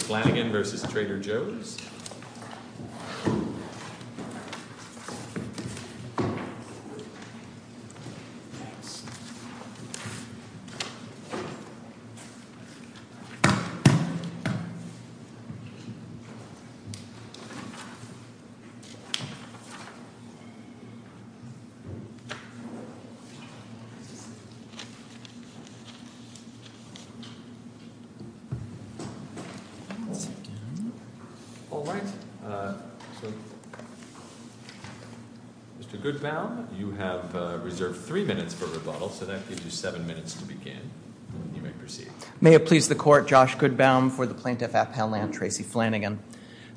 v. Trader Joe's East, Inc. May it please the Court, Josh Goodbaum for the Plaintiff at Pal Land, Tracy Flanagan.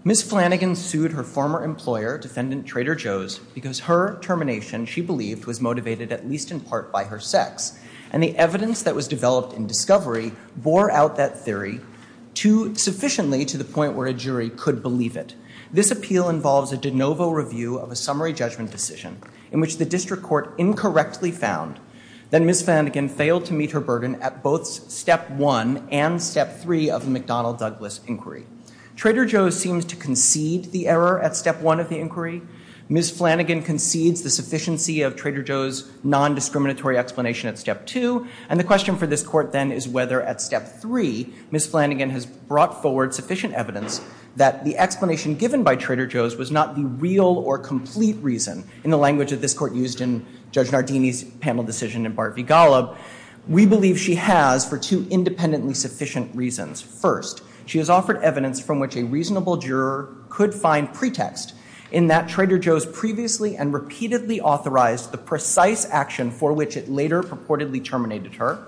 Ms. Flanagan sued her former employer, Defendant Trader Joe's, because her termination she believed was motivated at least in part by her sex, and the evidence that was developed in discovery bore out that theory sufficiently to the point where a jury could believe it. This appeal involves a de novo review of a summary judgment decision in which the district court incorrectly found that Ms. Flanagan failed to meet her burden at both step one and step three of the McDonnell-Douglas inquiry. Trader Joe's seems to concede the error at step one of the inquiry. Ms. Flanagan concedes the sufficiency of Trader Joe's nondiscriminatory explanation at step two, and the question for this Court then is whether at step three Ms. Flanagan has brought forward sufficient evidence that the explanation given by Trader Joe's was not the real or complete reason. In the language that this Court used in Judge Nardini's panel decision in Bart v. Golub, we believe she has for two independently sufficient reasons. First, she has offered evidence from which a reasonable juror could find pretext in that Trader Joe's previously and repeatedly authorized the precise action for which it later purportedly terminated her.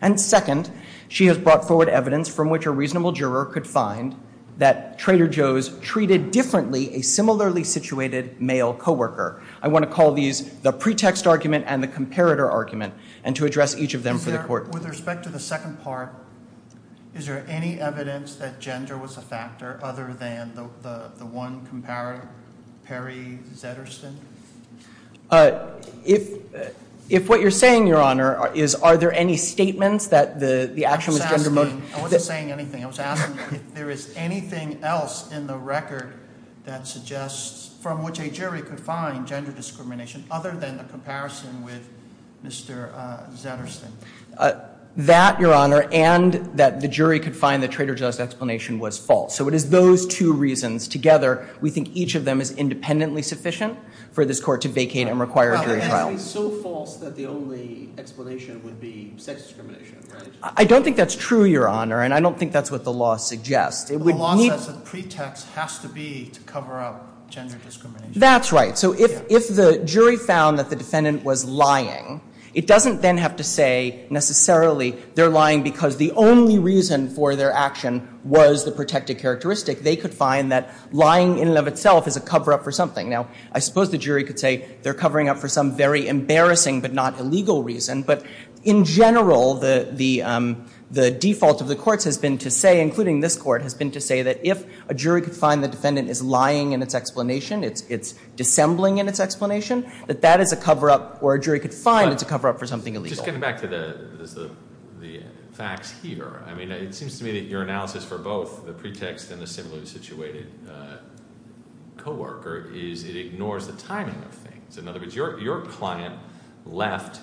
And second, she has brought forward evidence from which a reasonable juror could find that Trader Joe's treated differently a similarly situated male co-worker. I want to call these the pretext argument and the comparator argument and to address each of them for the Court. With respect to the second part, is there any evidence that gender was a factor other than the one comparator, Perry Zedderston? If what you're saying, Your Honor, is are there any statements that the action was gender motivated? I wasn't saying anything. I was asking if there is anything else in the record that suggests from which a jury could find gender discrimination other than the comparison with Mr. Zedderston. That, Your Honor, and that the jury could find that Trader Joe's explanation was false. So it is those two reasons together. We think each of them is independently sufficient for this Court to vacate and require a jury trial. So false that the only explanation would be sex discrimination, right? I don't think that's true, Your Honor, and I don't think that's what the law suggests. The law says the pretext has to be to cover up gender discrimination. That's right. So if the jury found that the defendant was lying, it doesn't then have to say necessarily they're lying because the only reason for their action was the protected characteristic. They could find that lying in and of itself is a cover-up for something. Now, I suppose the jury could say they're covering up for some very embarrassing but not illegal reason. But in general, the default of the courts has been to say, including this Court, has been to say that if a jury could find the defendant is lying in its explanation, it's dissembling in its explanation, that that is a cover-up or a jury could find it's a cover-up for something illegal. Just getting back to the facts here, I mean, it seems to me that your analysis for both the pretext and the similarly situated coworker is it ignores the timing of things. In other words, your client left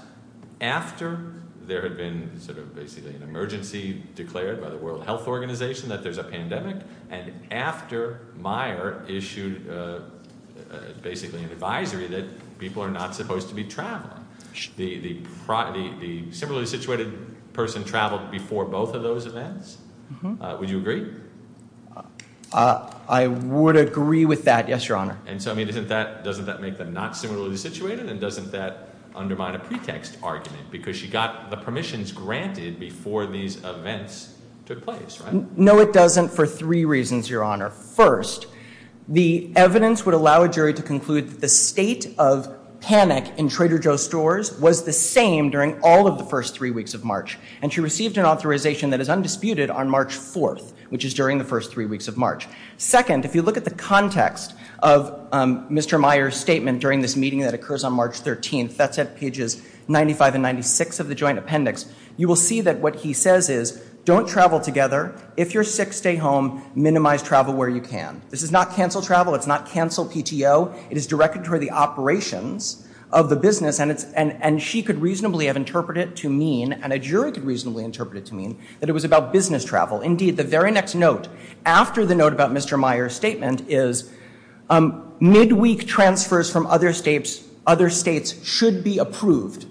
after there had been sort of basically an emergency declared by the World Health Organization that there's a pandemic and after Meyer issued basically an advisory that people are not supposed to be traveling. The similarly situated person traveled before both of those events? Would you agree? I would agree with that, yes, Your Honor. And so, I mean, doesn't that make them not similarly situated and doesn't that undermine a pretext argument because she got the permissions granted before these events took place, right? No, it doesn't for three reasons, Your Honor. First, the evidence would allow a jury to conclude that the state of panic in Trader Joe's was the same during all of the first three weeks of March, and she received an authorization that is undisputed on March 4th, which is during the first three weeks of March. Second, if you look at the context of Mr. Meyer's statement during this meeting that occurs on March 13th, that's at pages 95 and 96 of the joint appendix, you will see that what he says is, don't travel together. If you're sick, stay home. Minimize travel where you can. This is not cancel travel. It's not cancel PTO. It is directed toward the operations of the business, and she could reasonably have interpreted to mean, and a jury could reasonably interpret it to mean, that it was about business travel. Indeed, the very next note after the note about Mr. Meyer's statement is, midweek transfers from other states should be approved,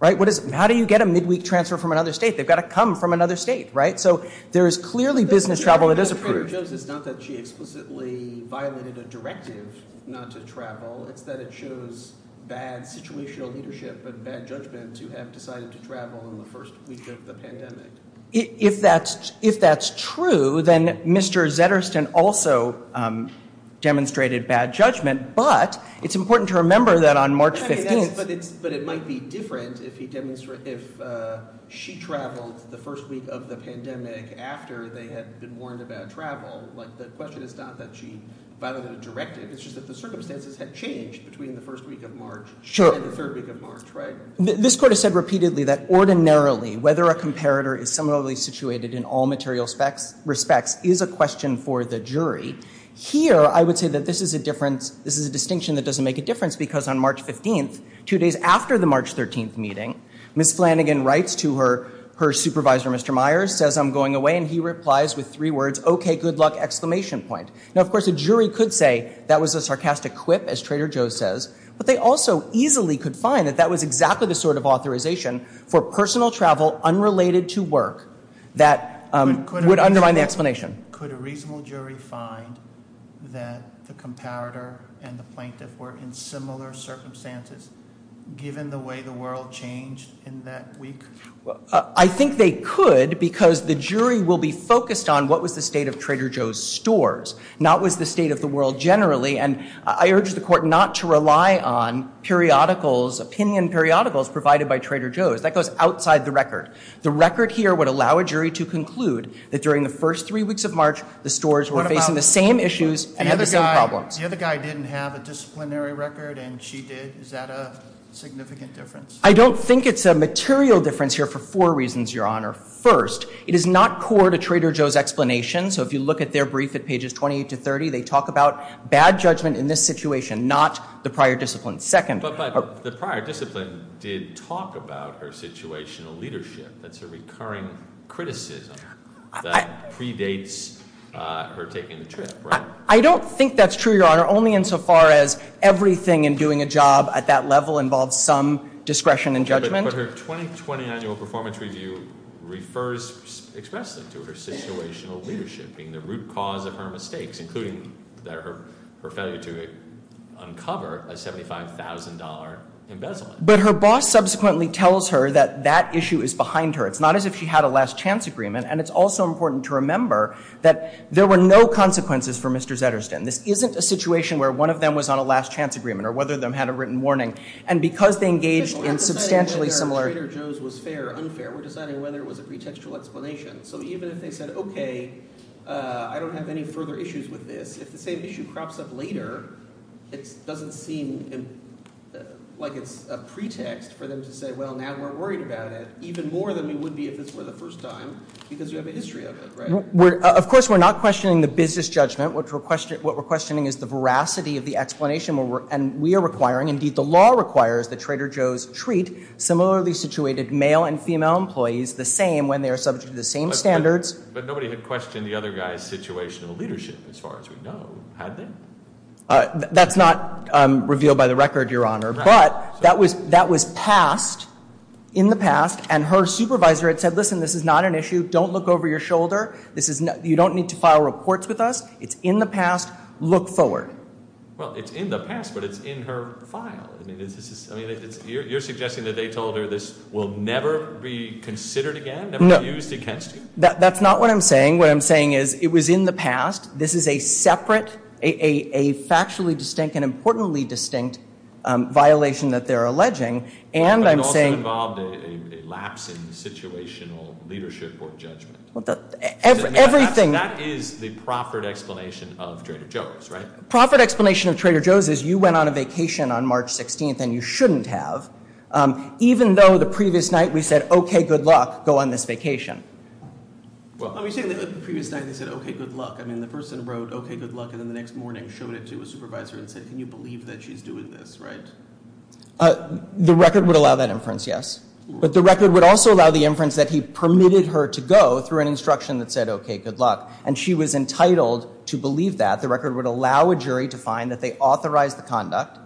right? How do you get a midweek transfer from another state? They've got to come from another state, right? So there is clearly business travel that is approved. What it shows is not that she explicitly violated a directive not to travel. It's that it shows bad situational leadership and bad judgment to have decided to travel in the first week of the pandemic. If that's true, then Mr. Zettersten also demonstrated bad judgment, but it's important to remember that on March 15th. But it might be different if she traveled the first week of the pandemic after they had been warned about travel. The question is not that she violated a directive, it's just that the circumstances had changed between the first week of March and the third week of March, right? This court has said repeatedly that ordinarily, whether a comparator is similarly situated in all material respects is a question for the jury. Here, I would say that this is a distinction that doesn't make a difference because on March 15th, two days after the March 13th meeting, Ms. Flanagan writes to her supervisor, Mr. Myers, says, I'm going away, and he replies with three words, okay, good luck, exclamation point. Now, of course, a jury could say that was a sarcastic quip, as Trader Joe's says, but they also easily could find that that was exactly the sort of authorization for personal travel unrelated to work that would undermine the explanation. Could a reasonable jury find that the comparator and the plaintiff were in similar circumstances given the way the world changed in that week? I think they could because the jury will be focused on what was the state of Trader Joe's stores, not what was the state of the world generally, and I urge the court not to rely on periodicals, opinion periodicals provided by Trader Joe's. That goes outside the record. The record here would allow a jury to conclude that during the first three weeks of March, the stores were facing the same issues and had the same problems. The other guy didn't have a disciplinary record, and she did. Is that a significant difference? I don't think it's a material difference here for four reasons, Your Honor. First, it is not core to Trader Joe's explanation, so if you look at their brief at pages 28 to 30, they talk about bad judgment in this situation, not the prior discipline. Second— But the prior discipline did talk about her situational leadership. That's a recurring criticism that predates her taking the trip, right? I don't think that's true, Your Honor, only insofar as everything in doing a job at that level involves some discretion and judgment. But her 2020 annual performance review refers—expresses it to her situational leadership being the root cause of her mistakes, including her failure to uncover a $75,000 embezzlement. But her boss subsequently tells her that that issue is behind her. It's not as if she had a last chance agreement, and it's also important to remember that there were no consequences for Mr. Zederstin. This isn't a situation where one of them was on a last chance agreement or whether one of them had a written warning. And because they engaged in substantially similar— We're not deciding whether Trader Joe's was fair or unfair. We're deciding whether it was a pretextual explanation. So even if they said, okay, I don't have any further issues with this, if the same issue crops up later, it doesn't seem like it's a pretext for them to say, well, now we're worried about it, even more than we would be if this were the first time, because you have a history of it, right? Of course, we're not questioning the business judgment. What we're questioning is the veracity of the explanation. And we are requesting that this be the case. requires that Trader Joe's treat similarly situated male and female employees the same when they are subject to the same standards. But nobody had questioned the other guy's situational leadership, as far as we know. Had they? That's not revealed by the record, Your Honor. But that was passed in the past, and her supervisor had said, listen, this is not an issue. Don't look over your shoulder. You don't need to file reports with us. It's in the past. Look forward. Well, it's in the past, but it's in her file. You're suggesting that they told her this will never be considered again, never be used against you? No. That's not what I'm saying. What I'm saying is, it was in the past. This is a separate, a factually distinct and importantly distinct violation that they're alleging. And I'm saying— But it also involved a lapse in situational leadership or judgment. Everything— That is the proffered explanation of Trader Joe's, right? Proffered explanation of Trader Joe's is, you went on a vacation on March 16th, and you shouldn't have, even though the previous night we said, okay, good luck, go on this vacation. Well, are you saying that the previous night they said, okay, good luck? I mean, the person wrote, okay, good luck, and then the next morning showed it to a supervisor and said, can you believe that she's doing this, right? The record would allow that inference, yes. But the record would also allow the inference that he permitted her to go through an instruction that said, okay, good luck. And she was entitled to believe that. The record would allow a jury to find that they authorized the conduct.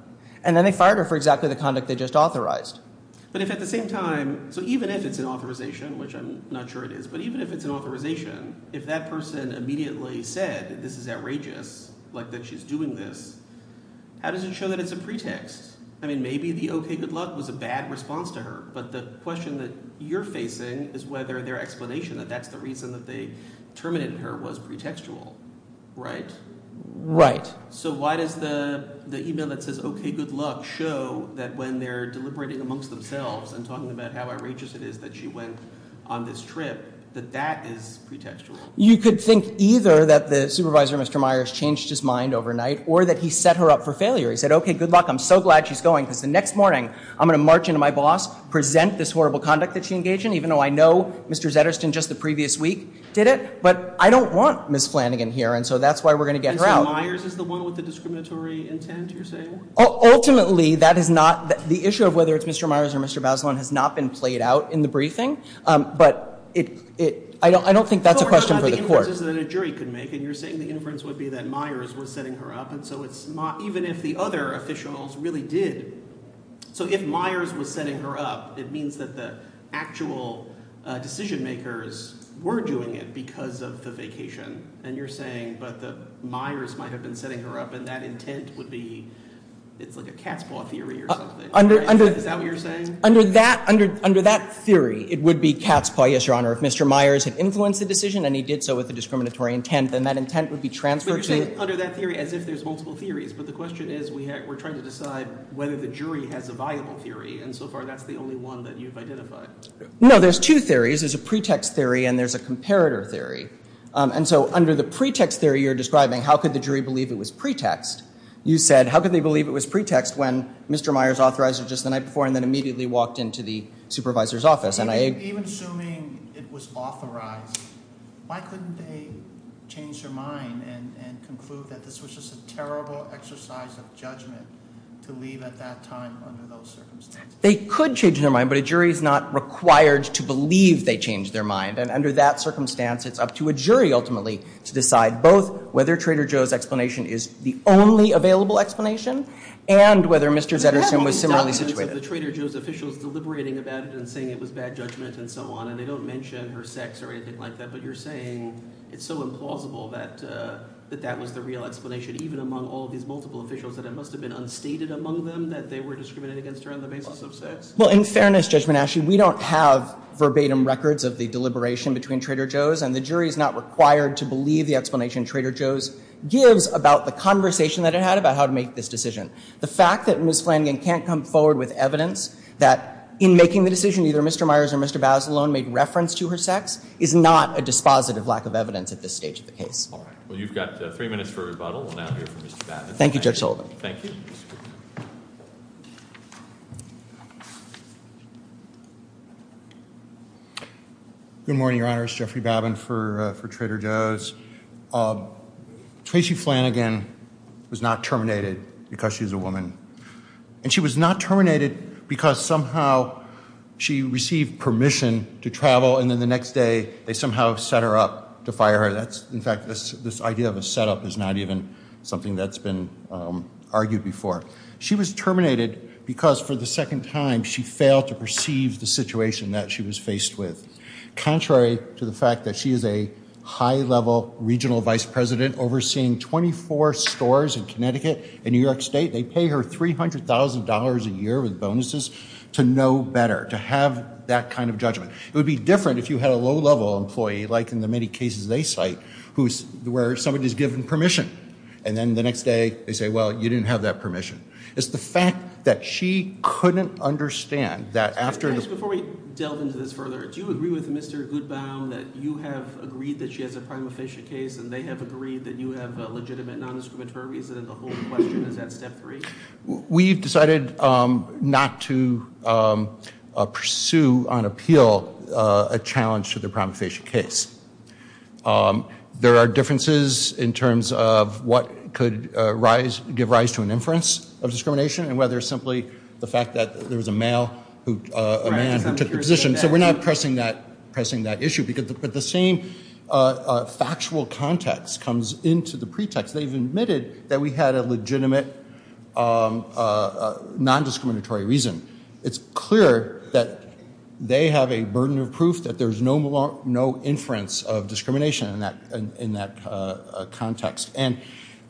And then they fired her for exactly the conduct they just authorized. But if at the same time—so even if it's an authorization, which I'm not sure it is, but even if it's an authorization, if that person immediately said that this is outrageous, like that she's doing this, how does it show that it's a pretext? I mean, maybe the okay, good luck was a bad response to her. But the question that you're facing is whether their explanation that that's the reason that they terminated her was pretextual, right? So why does the email that says okay, good luck show that when they're deliberating amongst themselves and talking about how outrageous it is that she went on this trip, that that is pretextual? You could think either that the supervisor, Mr. Myers, changed his mind overnight or that he set her up for failure. He said, okay, good luck. I'm so glad she's going because the next morning I'm going to march into my boss, present this horrible conduct that she engaged in, even though I know Mr. Zetterston just the previous week did it. But I don't want Ms. Flanagan here. And so that's why we're going to get her out. And so Myers is the one with the discriminatory intent, you're saying? Ultimately, that is not – the issue of whether it's Mr. Myers or Mr. Bazelon has not been played out in the briefing. But it – I don't think that's a question for the court. So we're talking about the inferences that a jury could make, and you're saying the inference would be that Myers was setting her up. And so it's – even if the other officials really did – so if Myers was setting her up, it means that the actual decision makers were doing it because of the vacation. And you're saying that Myers might have been setting her up, and that intent would be – it's like a cat's paw theory or something. Is that what you're saying? Under that theory, it would be cat's paw, yes, Your Honor. If Mr. Myers had influenced the decision and he did so with a discriminatory intent, then that intent would be transferred to – But you're saying under that theory as if there's multiple theories. But the question is we're trying to decide whether the jury has a viable theory. And so far that's the only one that you've identified. No, there's two theories. There's a pretext theory and there's a comparator theory. And so under the pretext theory you're describing, how could the jury believe it was pretext? You said how could they believe it was pretext when Mr. Myers authorized her just the night before and then immediately walked into the supervisor's office? Even assuming it was authorized, why couldn't they change their mind and conclude that this was just a terrible exercise of judgment to leave at that time under those circumstances? They could change their mind, but a jury is not required to believe they changed their mind. And under that circumstance, it's up to a jury ultimately to decide both whether Trader Joe's explanation is the only available explanation and whether Mr. Zedersohn was similarly situated. The Trader Joe's officials deliberating about it and saying it was bad judgment and so on and they don't mention her sex or anything like that, but you're saying it's so implausible that that was the real explanation even among all of these multiple officials, that it must have been unstated among them that they were discriminating against her on the basis of sex? Well, in fairness, Judge Manasci, we don't have verbatim records of the deliberation between Trader Joe's and the jury is not required to believe the explanation Trader Joe's gives about the conversation that it had about how to make this decision. The fact that Ms. Flanagan can't come forward with evidence that in making the decision either Mr. Myers or Mr. Bazelon made reference to her sex is not a dispositive lack of evidence at this stage of the case. All right. Well, you've got three minutes for rebuttal. We'll now hear from Mr. Bazelon. Thank you, Judge Holden. Thank you. Good morning, Your Honor. It's Jeffrey Babin for Trader Joe's. Tracy Flanagan was not terminated because she's a woman, and she was not terminated because somehow she received permission to travel and then the next day they somehow set her up to fire her. In fact, this idea of a setup is not even something that's been argued before. She was terminated because for the second time she failed to perceive the situation that she was faced with. Contrary to the fact that she is a high-level regional vice president overseeing 24 stores in Connecticut and New York State, they pay her $300,000 a year with bonuses to know better, to have that kind of judgment. It would be different if you had a low-level employee, like in the many cases they cite, where somebody's given permission and then the next day they say, well, you didn't have that permission. It's the fact that she couldn't understand that after... Before we delve into this further, do you agree with Mr. Goodbaum that you have agreed that she has a prima facie case and they have agreed that you have a legitimate non-discriminatory reason that the whole question is at step three? We've decided not to pursue on appeal a challenge to the prima facie case. There are differences in terms of what could rise... give rise to an inference of discrimination and whether simply the fact that there was a male who... a man who took the position. So we're not pressing that issue but the same factual context comes into the pretext. They've admitted that we had a legitimate non-discriminatory reason. It's clear that they have a burden of proof that there's no inference of discrimination in that context. And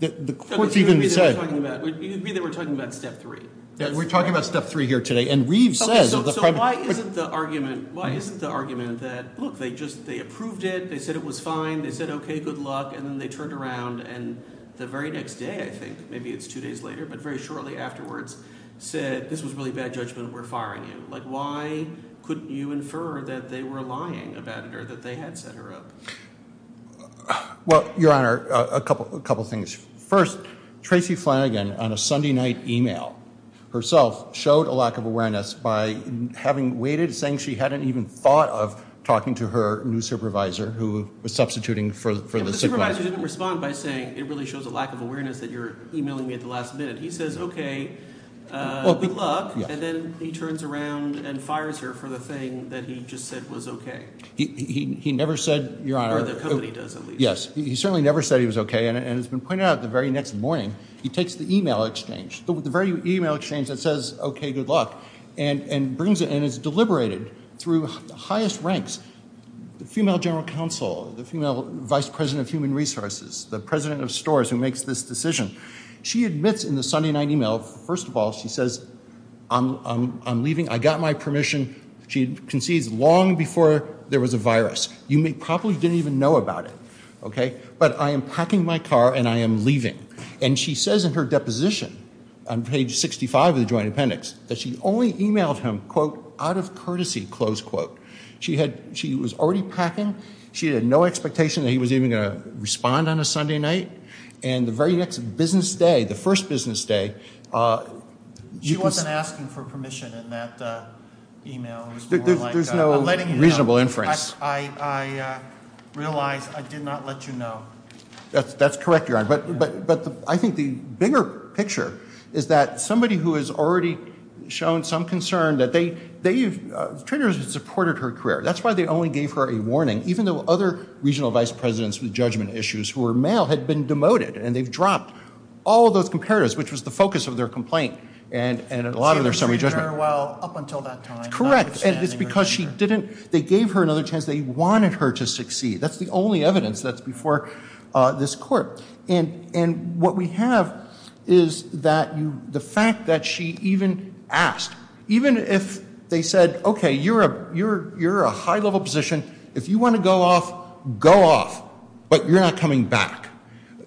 the court's even said... You mean that we're talking about step three? We're talking about step three here today and Reeve says... So why isn't the argument... Why isn't the argument that, look, they just... They approved it, they said it was fine, they said, OK, good luck, and then they turned around and the very next day, I think, maybe it's two days later but very shortly afterwards, said this was really bad judgment, we're firing you. Why couldn't you infer that they were lying about it or that they had set her up? Well, Your Honour, a couple of things. First, Tracy Flanagan, on a Sunday night email herself, showed a lack of awareness by having waited, saying she hadn't even thought of talking to her new supervisor who was substituting for the supervisor. But the supervisor didn't respond by saying, it really shows a lack of awareness that you're emailing me at the last minute. He says, OK, good luck, and then he turns around and fires her for the thing that he just said was OK. He never said, Your Honour... Or the company does, at least. Yes, he certainly never said he was OK and it's been pointed out the very next morning, he takes the email exchange, the very email exchange that says, OK, good luck, and is deliberated through the highest ranks. The female general counsel, the female vice president of human resources, the president of stores who makes this decision, she admits in the Sunday night email, first of all, she says, I'm leaving, I got my permission. She concedes long before there was a virus. You probably didn't even know about it, OK? But I am packing my car and I am leaving. And she says in her deposition on page 65 of the joint appendix that she only emailed him, quote, out of courtesy, close quote. She was already packing. She had no expectation that he was even going to respond on a Sunday night. And the very next business day, the first business day... She wasn't asking for permission in that email. There's no reasonable inference. I realize I did not let you know. That's correct, Your Honour. But I think the bigger picture is that somebody who has already shown some concern, that they've supported her career. That's why they only gave her a warning, even though other regional vice presidents with judgment issues who were male had been demoted and they've dropped all of those comparatives, which was the focus of their complaint and a lot of their summary judgment. Well, up until that time... And it's because she didn't... They gave her another chance. They wanted her to succeed. That's the only evidence that's before this court. And what we have is that the fact that she even asked, even if they said, OK, you're a high-level position. If you want to go off, go off, but you're not coming back.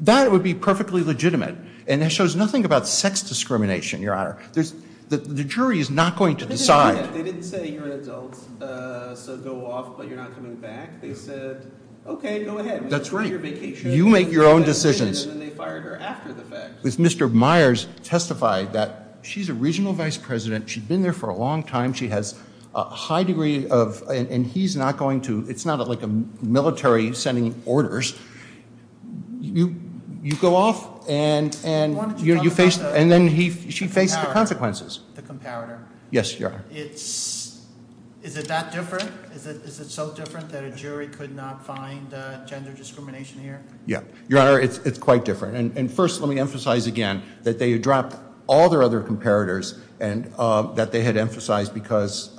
That would be perfectly legitimate. And that shows nothing about sex discrimination, Your Honour. The jury is not going to decide... They didn't say you're an adult, so go off, but you're not coming back. They said, OK, go ahead. That's right. You make your own decisions. And then they fired her after the fact. Mr. Myers testified that she's a regional vice president. She'd been there for a long time. She has a high degree of... And he's not going to... It's not like a military sending orders. You go off and you face... And then she faced the consequences. The comparator. Yes, Your Honour. Is it that different? Is it so different that a jury could not find gender discrimination here? Yeah. Your Honour, it's quite different. And first, let me emphasize again that they had dropped all their other comparators that they had emphasized because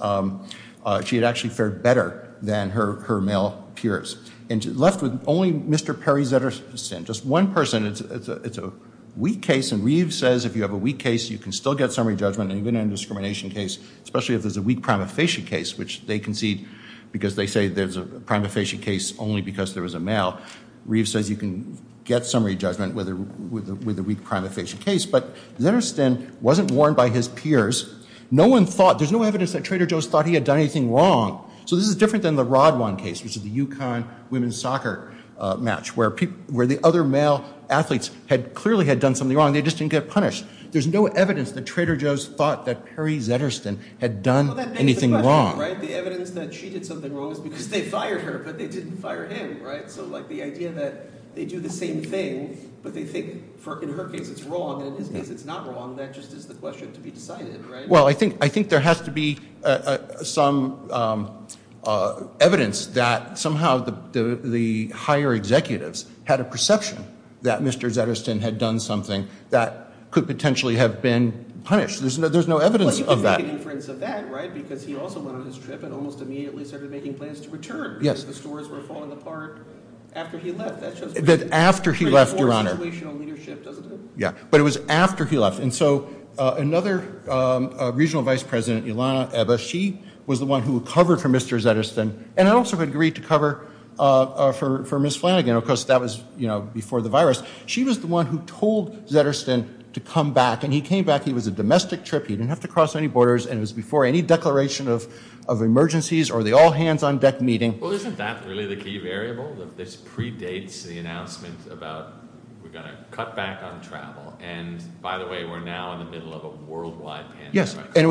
she had actually fared better than her male peers. And left with only Mr. Perry Zetterstein, just one person. It's a weak case, and Reeves says if you have a weak case, you can still get summary judgment. And even in a discrimination case, especially if there's a weak prima facie case, which they concede because they say there's a prima facie case only because there was a male, Reeves says you can get summary judgment with a weak prima facie case. But Zetterstein wasn't warned by his peers. No one thought... There's no evidence that Trader Joe's thought he had done anything wrong. So this is different than the Rodwan case, which is the Yukon women's soccer match, where the other male athletes clearly had done something wrong. They just didn't get punished. There's no evidence that Trader Joe's thought that Perry Zetterstein had done anything wrong. Well, that begs the question, right? The evidence that she did something wrong is because they fired her, but they didn't fire him, right? So, like, the idea that they do the same thing, but they think in her case it's wrong, and in his case it's not wrong, that just is the question to be decided, right? Well, I think there has to be some evidence that somehow the higher executives had a perception that Mr. Zetterstein had done something that could potentially have been punished. There's no evidence of that. Well, you could make an inference of that, right? Because he also went on his trip and almost immediately started making plans to return because the stores were falling apart after he left. That's just pretty poor situational leadership, doesn't it? Yeah, but it was after he left. And so another regional vice president, Ilana Eba, she was the one who covered for Mr. Zetterstein, and also agreed to cover for Ms. Flanagan, because that was before the virus. She was the one who told Zetterstein to come back, and he came back. He was a domestic trip. He didn't have to cross any borders, and it was before any declaration of emergencies or the all-hands-on-deck meeting. Well, isn't that really the key variable, that this predates the announcement about we're going to cut back on travel, and by the way, we're now in the middle of a worldwide pandemic. Yes, and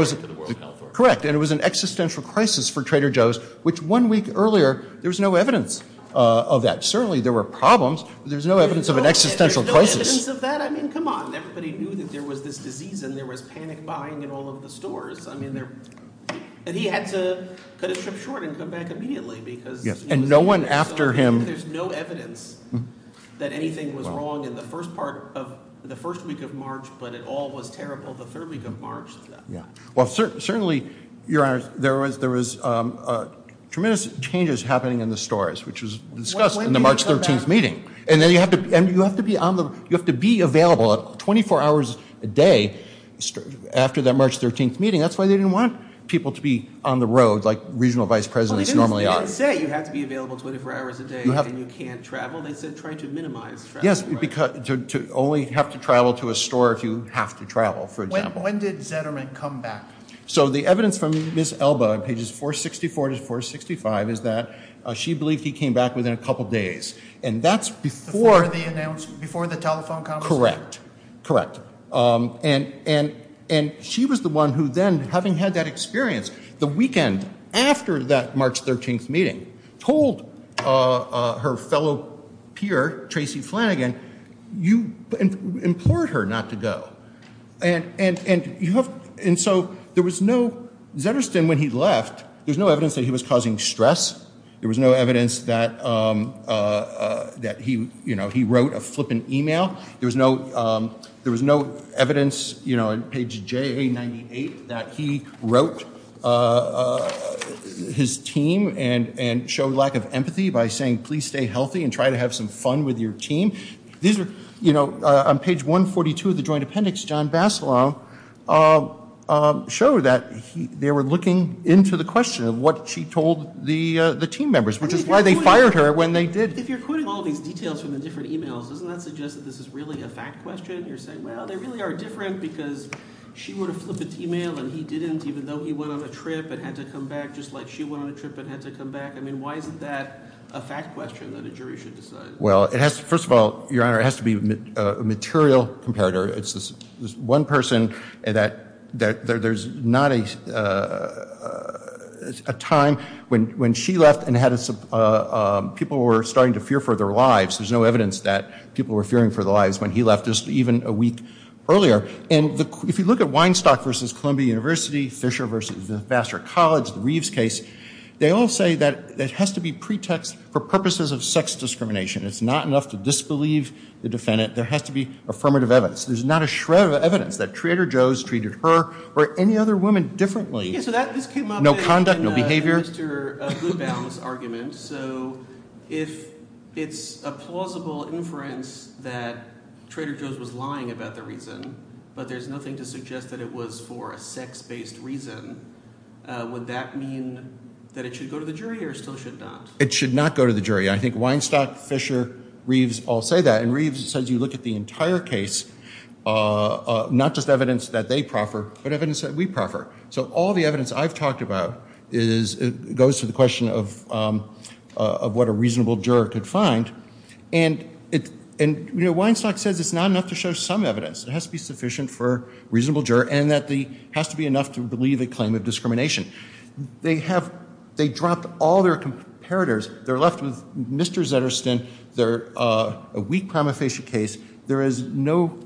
it was an existential crisis for Trader Joe's, which one week earlier, there was no evidence of that. Certainly there were problems, but there's no evidence of an existential crisis. There's no evidence of that? I mean, come on. Everybody knew that there was this disease and there was panic buying in all of the stores. He had to cut his trip short and come back immediately. And no one after him? There's no evidence that anything was wrong in the first week of March, but it all was terrible the third week of March. Well, certainly, Your Honor, there was tremendous changes happening in the stores, which was discussed in the March 13th meeting. And you have to be available 24 hours a day after that March 13th meeting. That's why they didn't want people to be on the road like regional vice presidents normally are. Well, they didn't say you have to be available 24 hours a day and you can't travel. They said try to minimize travel. Yes, to only have to travel to a store if you have to travel, for example. When did Zetterman come back? So the evidence from Ms. Elba on pages 464 to 465 is that she believed he came back within a couple days. And that's before the announcement, before the telephone conversation? Correct, correct. And she was the one who then, having had that experience the weekend after that March 13th meeting, told her fellow peer, Tracy Flanagan, you implored her not to go. And so there was no ‑‑ Zetterston, when he left, there was no evidence that he was causing stress. There was no evidence that he wrote a flippant e-mail. There was no evidence, you know, on page JA98 that he wrote his team and showed lack of empathy by saying please stay healthy and try to have some fun with your team. These are, you know, on page 142 of the joint appendix, John Basilow showed that they were looking into the question of what she told the team members, which is why they fired her when they did. If you're quoting all these details from the different e-mails, doesn't that suggest that this is really a fact question? You're saying, well, they really are different because she wrote a flippant e-mail and he didn't, even though he went on a trip and had to come back just like she went on a trip and had to come back. I mean, why isn't that a fact question that a jury should decide? Well, first of all, Your Honor, it has to be a material comparator. It's this one person that there's not a time when she left and people were starting to fear for their lives. There's no evidence that people were fearing for their lives when he left just even a week earlier. And if you look at Weinstock v. Columbia University, Fisher v. Vassar College, the Reeves case, they all say that it has to be pretext for purposes of sex discrimination. It's not enough to disbelieve the defendant. There has to be affirmative evidence. There's not a shred of evidence that Trader Joe's treated her or any other woman differently. No conduct, no behavior. So this came up in Mr. Goodbaum's argument. So if it's a plausible inference that Trader Joe's was lying about the reason, but there's nothing to suggest that it was for a sex-based reason, would that mean that it should go to the jury or still should not? It should not go to the jury. I think Weinstock, Fisher, Reeves all say that. And Reeves says you look at the entire case, not just evidence that they proffer, but evidence that we prefer. So all the evidence I've talked about goes to the question of what a reasonable juror could find. And Weinstock says it's not enough to show some evidence. It has to be sufficient for a reasonable juror and that it has to be enough to believe a claim of discrimination. They dropped all their comparators. They're left with Mr. Zettersten, a weak prima facie case. There is no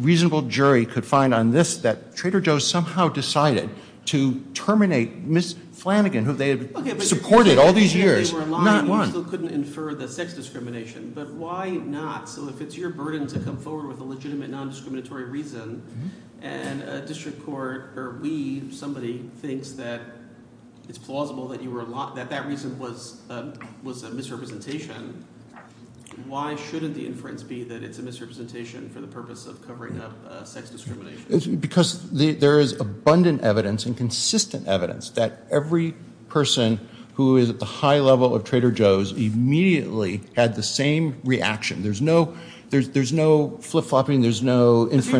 reasonable jury could find on this that Trader Joe's somehow decided to terminate Ms. Flanagan, who they had supported all these years, not one. You still couldn't infer the sex discrimination, but why not? So if it's your burden to come forward with a legitimate non-discriminatory reason, and a district court or we, somebody, thinks that it's plausible that that reason was a misrepresentation, why shouldn't the inference be that it's a misrepresentation for the purpose of covering up sex discrimination? Because there is abundant evidence and consistent evidence that every person who is at the high level of Trader Joe's immediately had the same reaction. There's no flip-flopping. But you're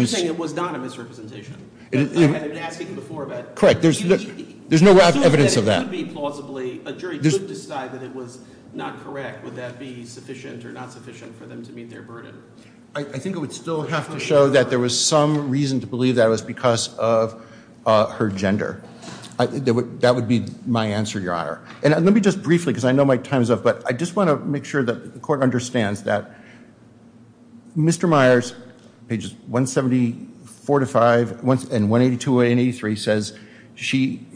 saying it was not a misrepresentation. I've been asking before about it. There's no evidence of that. A jury could decide that it was not correct. Would that be sufficient or not sufficient for them to meet their burden? I think it would still have to show that there was some reason to believe that it was because of her gender. That would be my answer, Your Honor. And let me just briefly, because I know my time is up, but I just want to make sure that the court understands that Mr. Myers, pages 174 to 5 and 182 and 183, says she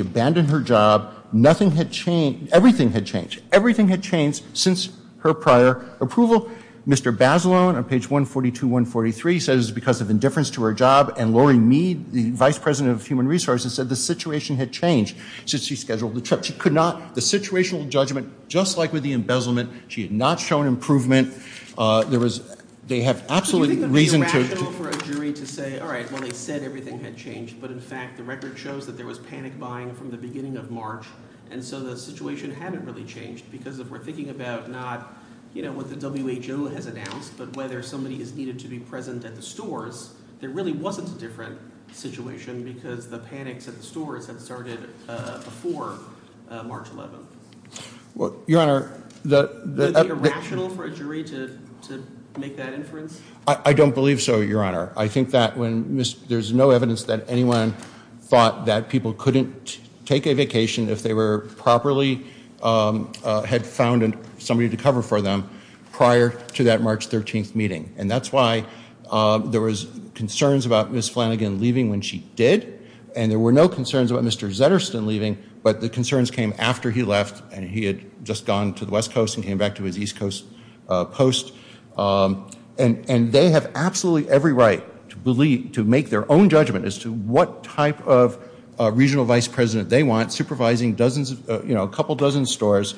abandoned her job. Nothing had changed. Everything had changed. Everything had changed since her prior approval. Mr. Bazelon on page 142, 143 says it's because of indifference to her job, and Lori Mead, the vice president of human resources, said the situation had changed since she scheduled the trip. The situational judgment, just like with the embezzlement, she had not shown improvement. They have absolute reason to – Do you think it would be rational for a jury to say, all right, well, they said everything had changed, but in fact the record shows that there was panic buying from the beginning of March, and so the situation hadn't really changed because if we're thinking about not what the WHO has announced but whether somebody is needed to be present at the stores, there really wasn't a different situation because the panics at the stores had started before March 11th. Your Honor, the – Would it be rational for a jury to make that inference? I don't believe so, Your Honor. I think that when – there's no evidence that anyone thought that people couldn't take a vacation if they were properly – had found somebody to cover for them prior to that March 13th meeting, and that's why there was concerns about Ms. Flanagan leaving when she did, and there were no concerns about Mr. Zetterston leaving, but the concerns came after he left and he had just gone to the West Coast and came back to his East Coast post, and they have absolutely every right to make their own judgment as to what type of regional vice president they want, supervising dozens of – you know, a couple dozen stores,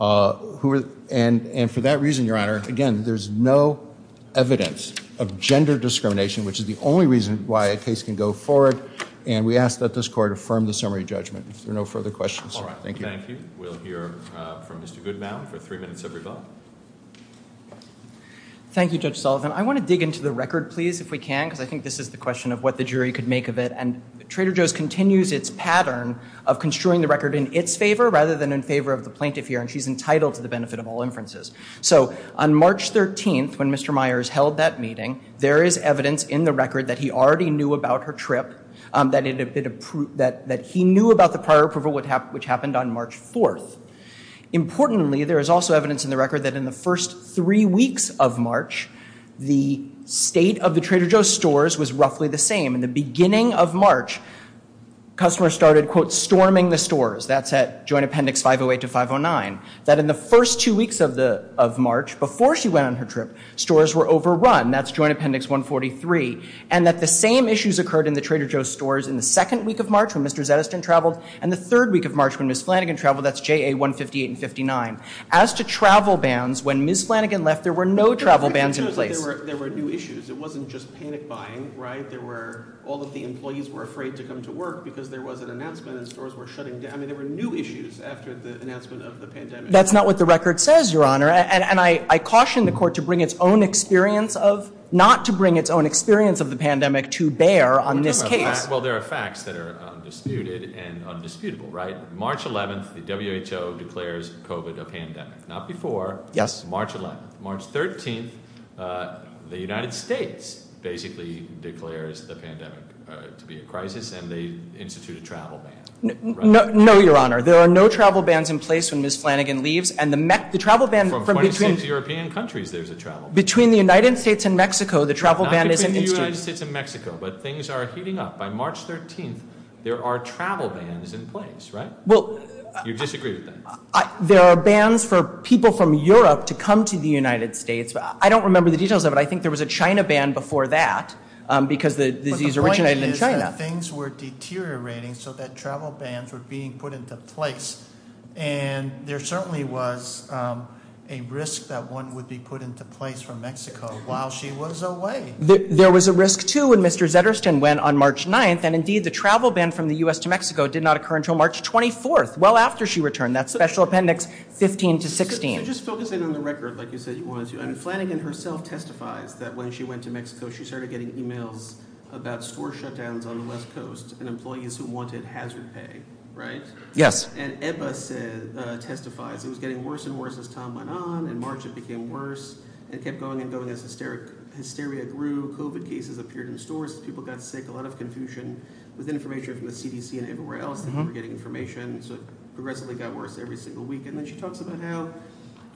and for that reason, Your Honor, again, there's no evidence of gender discrimination, which is the only reason why a case can go forward, and we ask that this Court affirm the summary judgment. If there are no further questions, thank you. All right. Thank you. We'll hear from Mr. Goodmountain for three minutes every vote. Thank you, Judge Sullivan. I want to dig into the record, please, if we can, because I think this is the question of what the jury could make of it, and Trader Joe's continues its pattern of construing the record in its favor rather than in favor of the plaintiff here, and she's entitled to the benefit of all inferences. So on March 13th, when Mr. Myers held that meeting, there is evidence in the record that he already knew about her trip, that he knew about the prior approval, which happened on March 4th. Importantly, there is also evidence in the record that in the first three weeks of March, the state of the Trader Joe's stores was roughly the same. In the beginning of March, customers started, quote, storming the stores. That's at Joint Appendix 508 to 509. That in the first two weeks of March, before she went on her trip, stores were overrun. That's Joint Appendix 143. And that the same issues occurred in the Trader Joe's stores in the second week of March, when Mr. Zettleston traveled, and the third week of March, when Ms. Flanagan traveled. That's JA 158 and 59. As to travel bans, when Ms. Flanagan left, there were no travel bans in place. There were new issues. It wasn't just panic buying, right? All of the employees were afraid to come to work because there was an announcement that stores were shutting down. I mean, there were new issues after the announcement of the pandemic. That's not what the record says, Your Honor. And I caution the Court to bring its own experience of— not to bring its own experience of the pandemic to bear on this case. Well, there are facts that are undisputed and undisputable, right? March 11th, the WHO declares COVID a pandemic. Not before. Yes. March 11th. March 13th, the United States basically declares the pandemic to be a crisis, and they institute a travel ban. No, Your Honor. There are no travel bans in place when Ms. Flanagan leaves. And the travel ban— From 26 European countries, there's a travel ban. Between the United States and Mexico, the travel ban isn't instituted. Not between the United States and Mexico, but things are heating up. By March 13th, there are travel bans in place, right? You disagree with that? There are bans for people from Europe to come to the United States. I don't remember the details of it. I think there was a China ban before that because the disease originated in China. But things were deteriorating so that travel bans were being put into place. And there certainly was a risk that one would be put into place from Mexico while she was away. There was a risk, too, when Mr. Zetterstein went on March 9th, and indeed the travel ban from the U.S. to Mexico did not occur until March 24th, well after she returned. That's Special Appendix 15 to 16. So just focusing on the record, like you said you wanted to do, and Flanagan herself testifies that when she went to Mexico, she started getting emails about store shutdowns on the West Coast and employees who wanted hazard pay, right? Yes. And EBBA testifies it was getting worse and worse as time went on. In March, it became worse and kept going and going as hysteria grew. COVID cases appeared in stores. People got sick. A lot of confusion with information from the CDC and everywhere else that they were getting information. So it progressively got worse every single week. And then she talks about how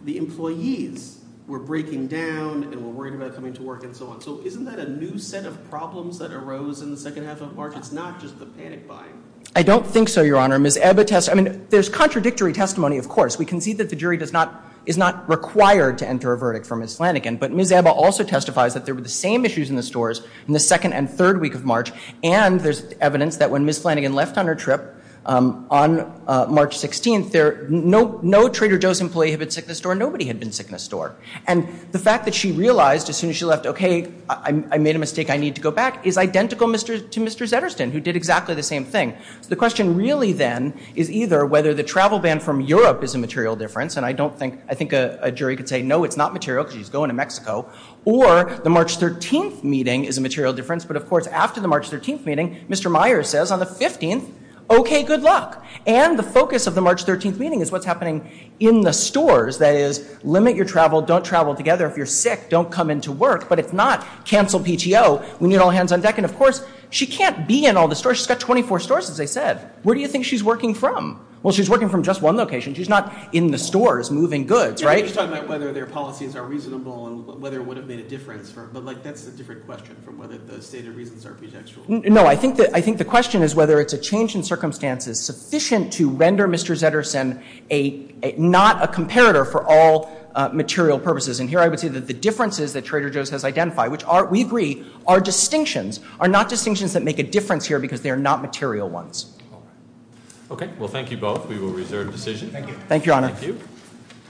the employees were breaking down and were worried about coming to work and so on. So isn't that a new set of problems that arose in the second half of March? It's not just the panic buying. I don't think so, Your Honor. Ms. EBBA testifies. I mean, there's contradictory testimony, of course. We concede that the jury is not required to enter a verdict for Ms. Flanagan. But Ms. EBBA also testifies that there were the same issues in the stores in the second and third week of March, and there's evidence that when Ms. Flanagan left on her trip on March 16th, no Trader Joe's employee had been sick in a store. Nobody had been sick in a store. And the fact that she realized as soon as she left, okay, I made a mistake, I need to go back, is identical to Mr. Zedderston, who did exactly the same thing. So the question really then is either whether the travel ban from Europe is a material difference, and I think a jury could say, no, it's not material because he's going to Mexico, or the March 13th meeting is a material difference. But, of course, after the March 13th meeting, Mr. Myers says on the 15th, okay, good luck. And the focus of the March 13th meeting is what's happening in the stores, that is, limit your travel, don't travel together. If you're sick, don't come into work. But if not, cancel PTO. We need all hands on deck. And, of course, she can't be in all the stores. She's got 24 stores, as I said. Where do you think she's working from? Well, she's working from just one location. She's not in the stores moving goods, right? You're talking about whether their policies are reasonable and whether it would have made a difference. But, like, that's a different question from whether the stated reasons are pretextual. No, I think the question is whether it's a change in circumstances sufficient to render Mr. Zederson not a comparator for all material purposes. And here I would say that the differences that Trader Joe's has identified, which we agree are distinctions, are not distinctions that make a difference here because they are not material ones. Okay. Well, thank you both. We will reserve the decision. Thank you. Thank you, Your Honor. Thank you.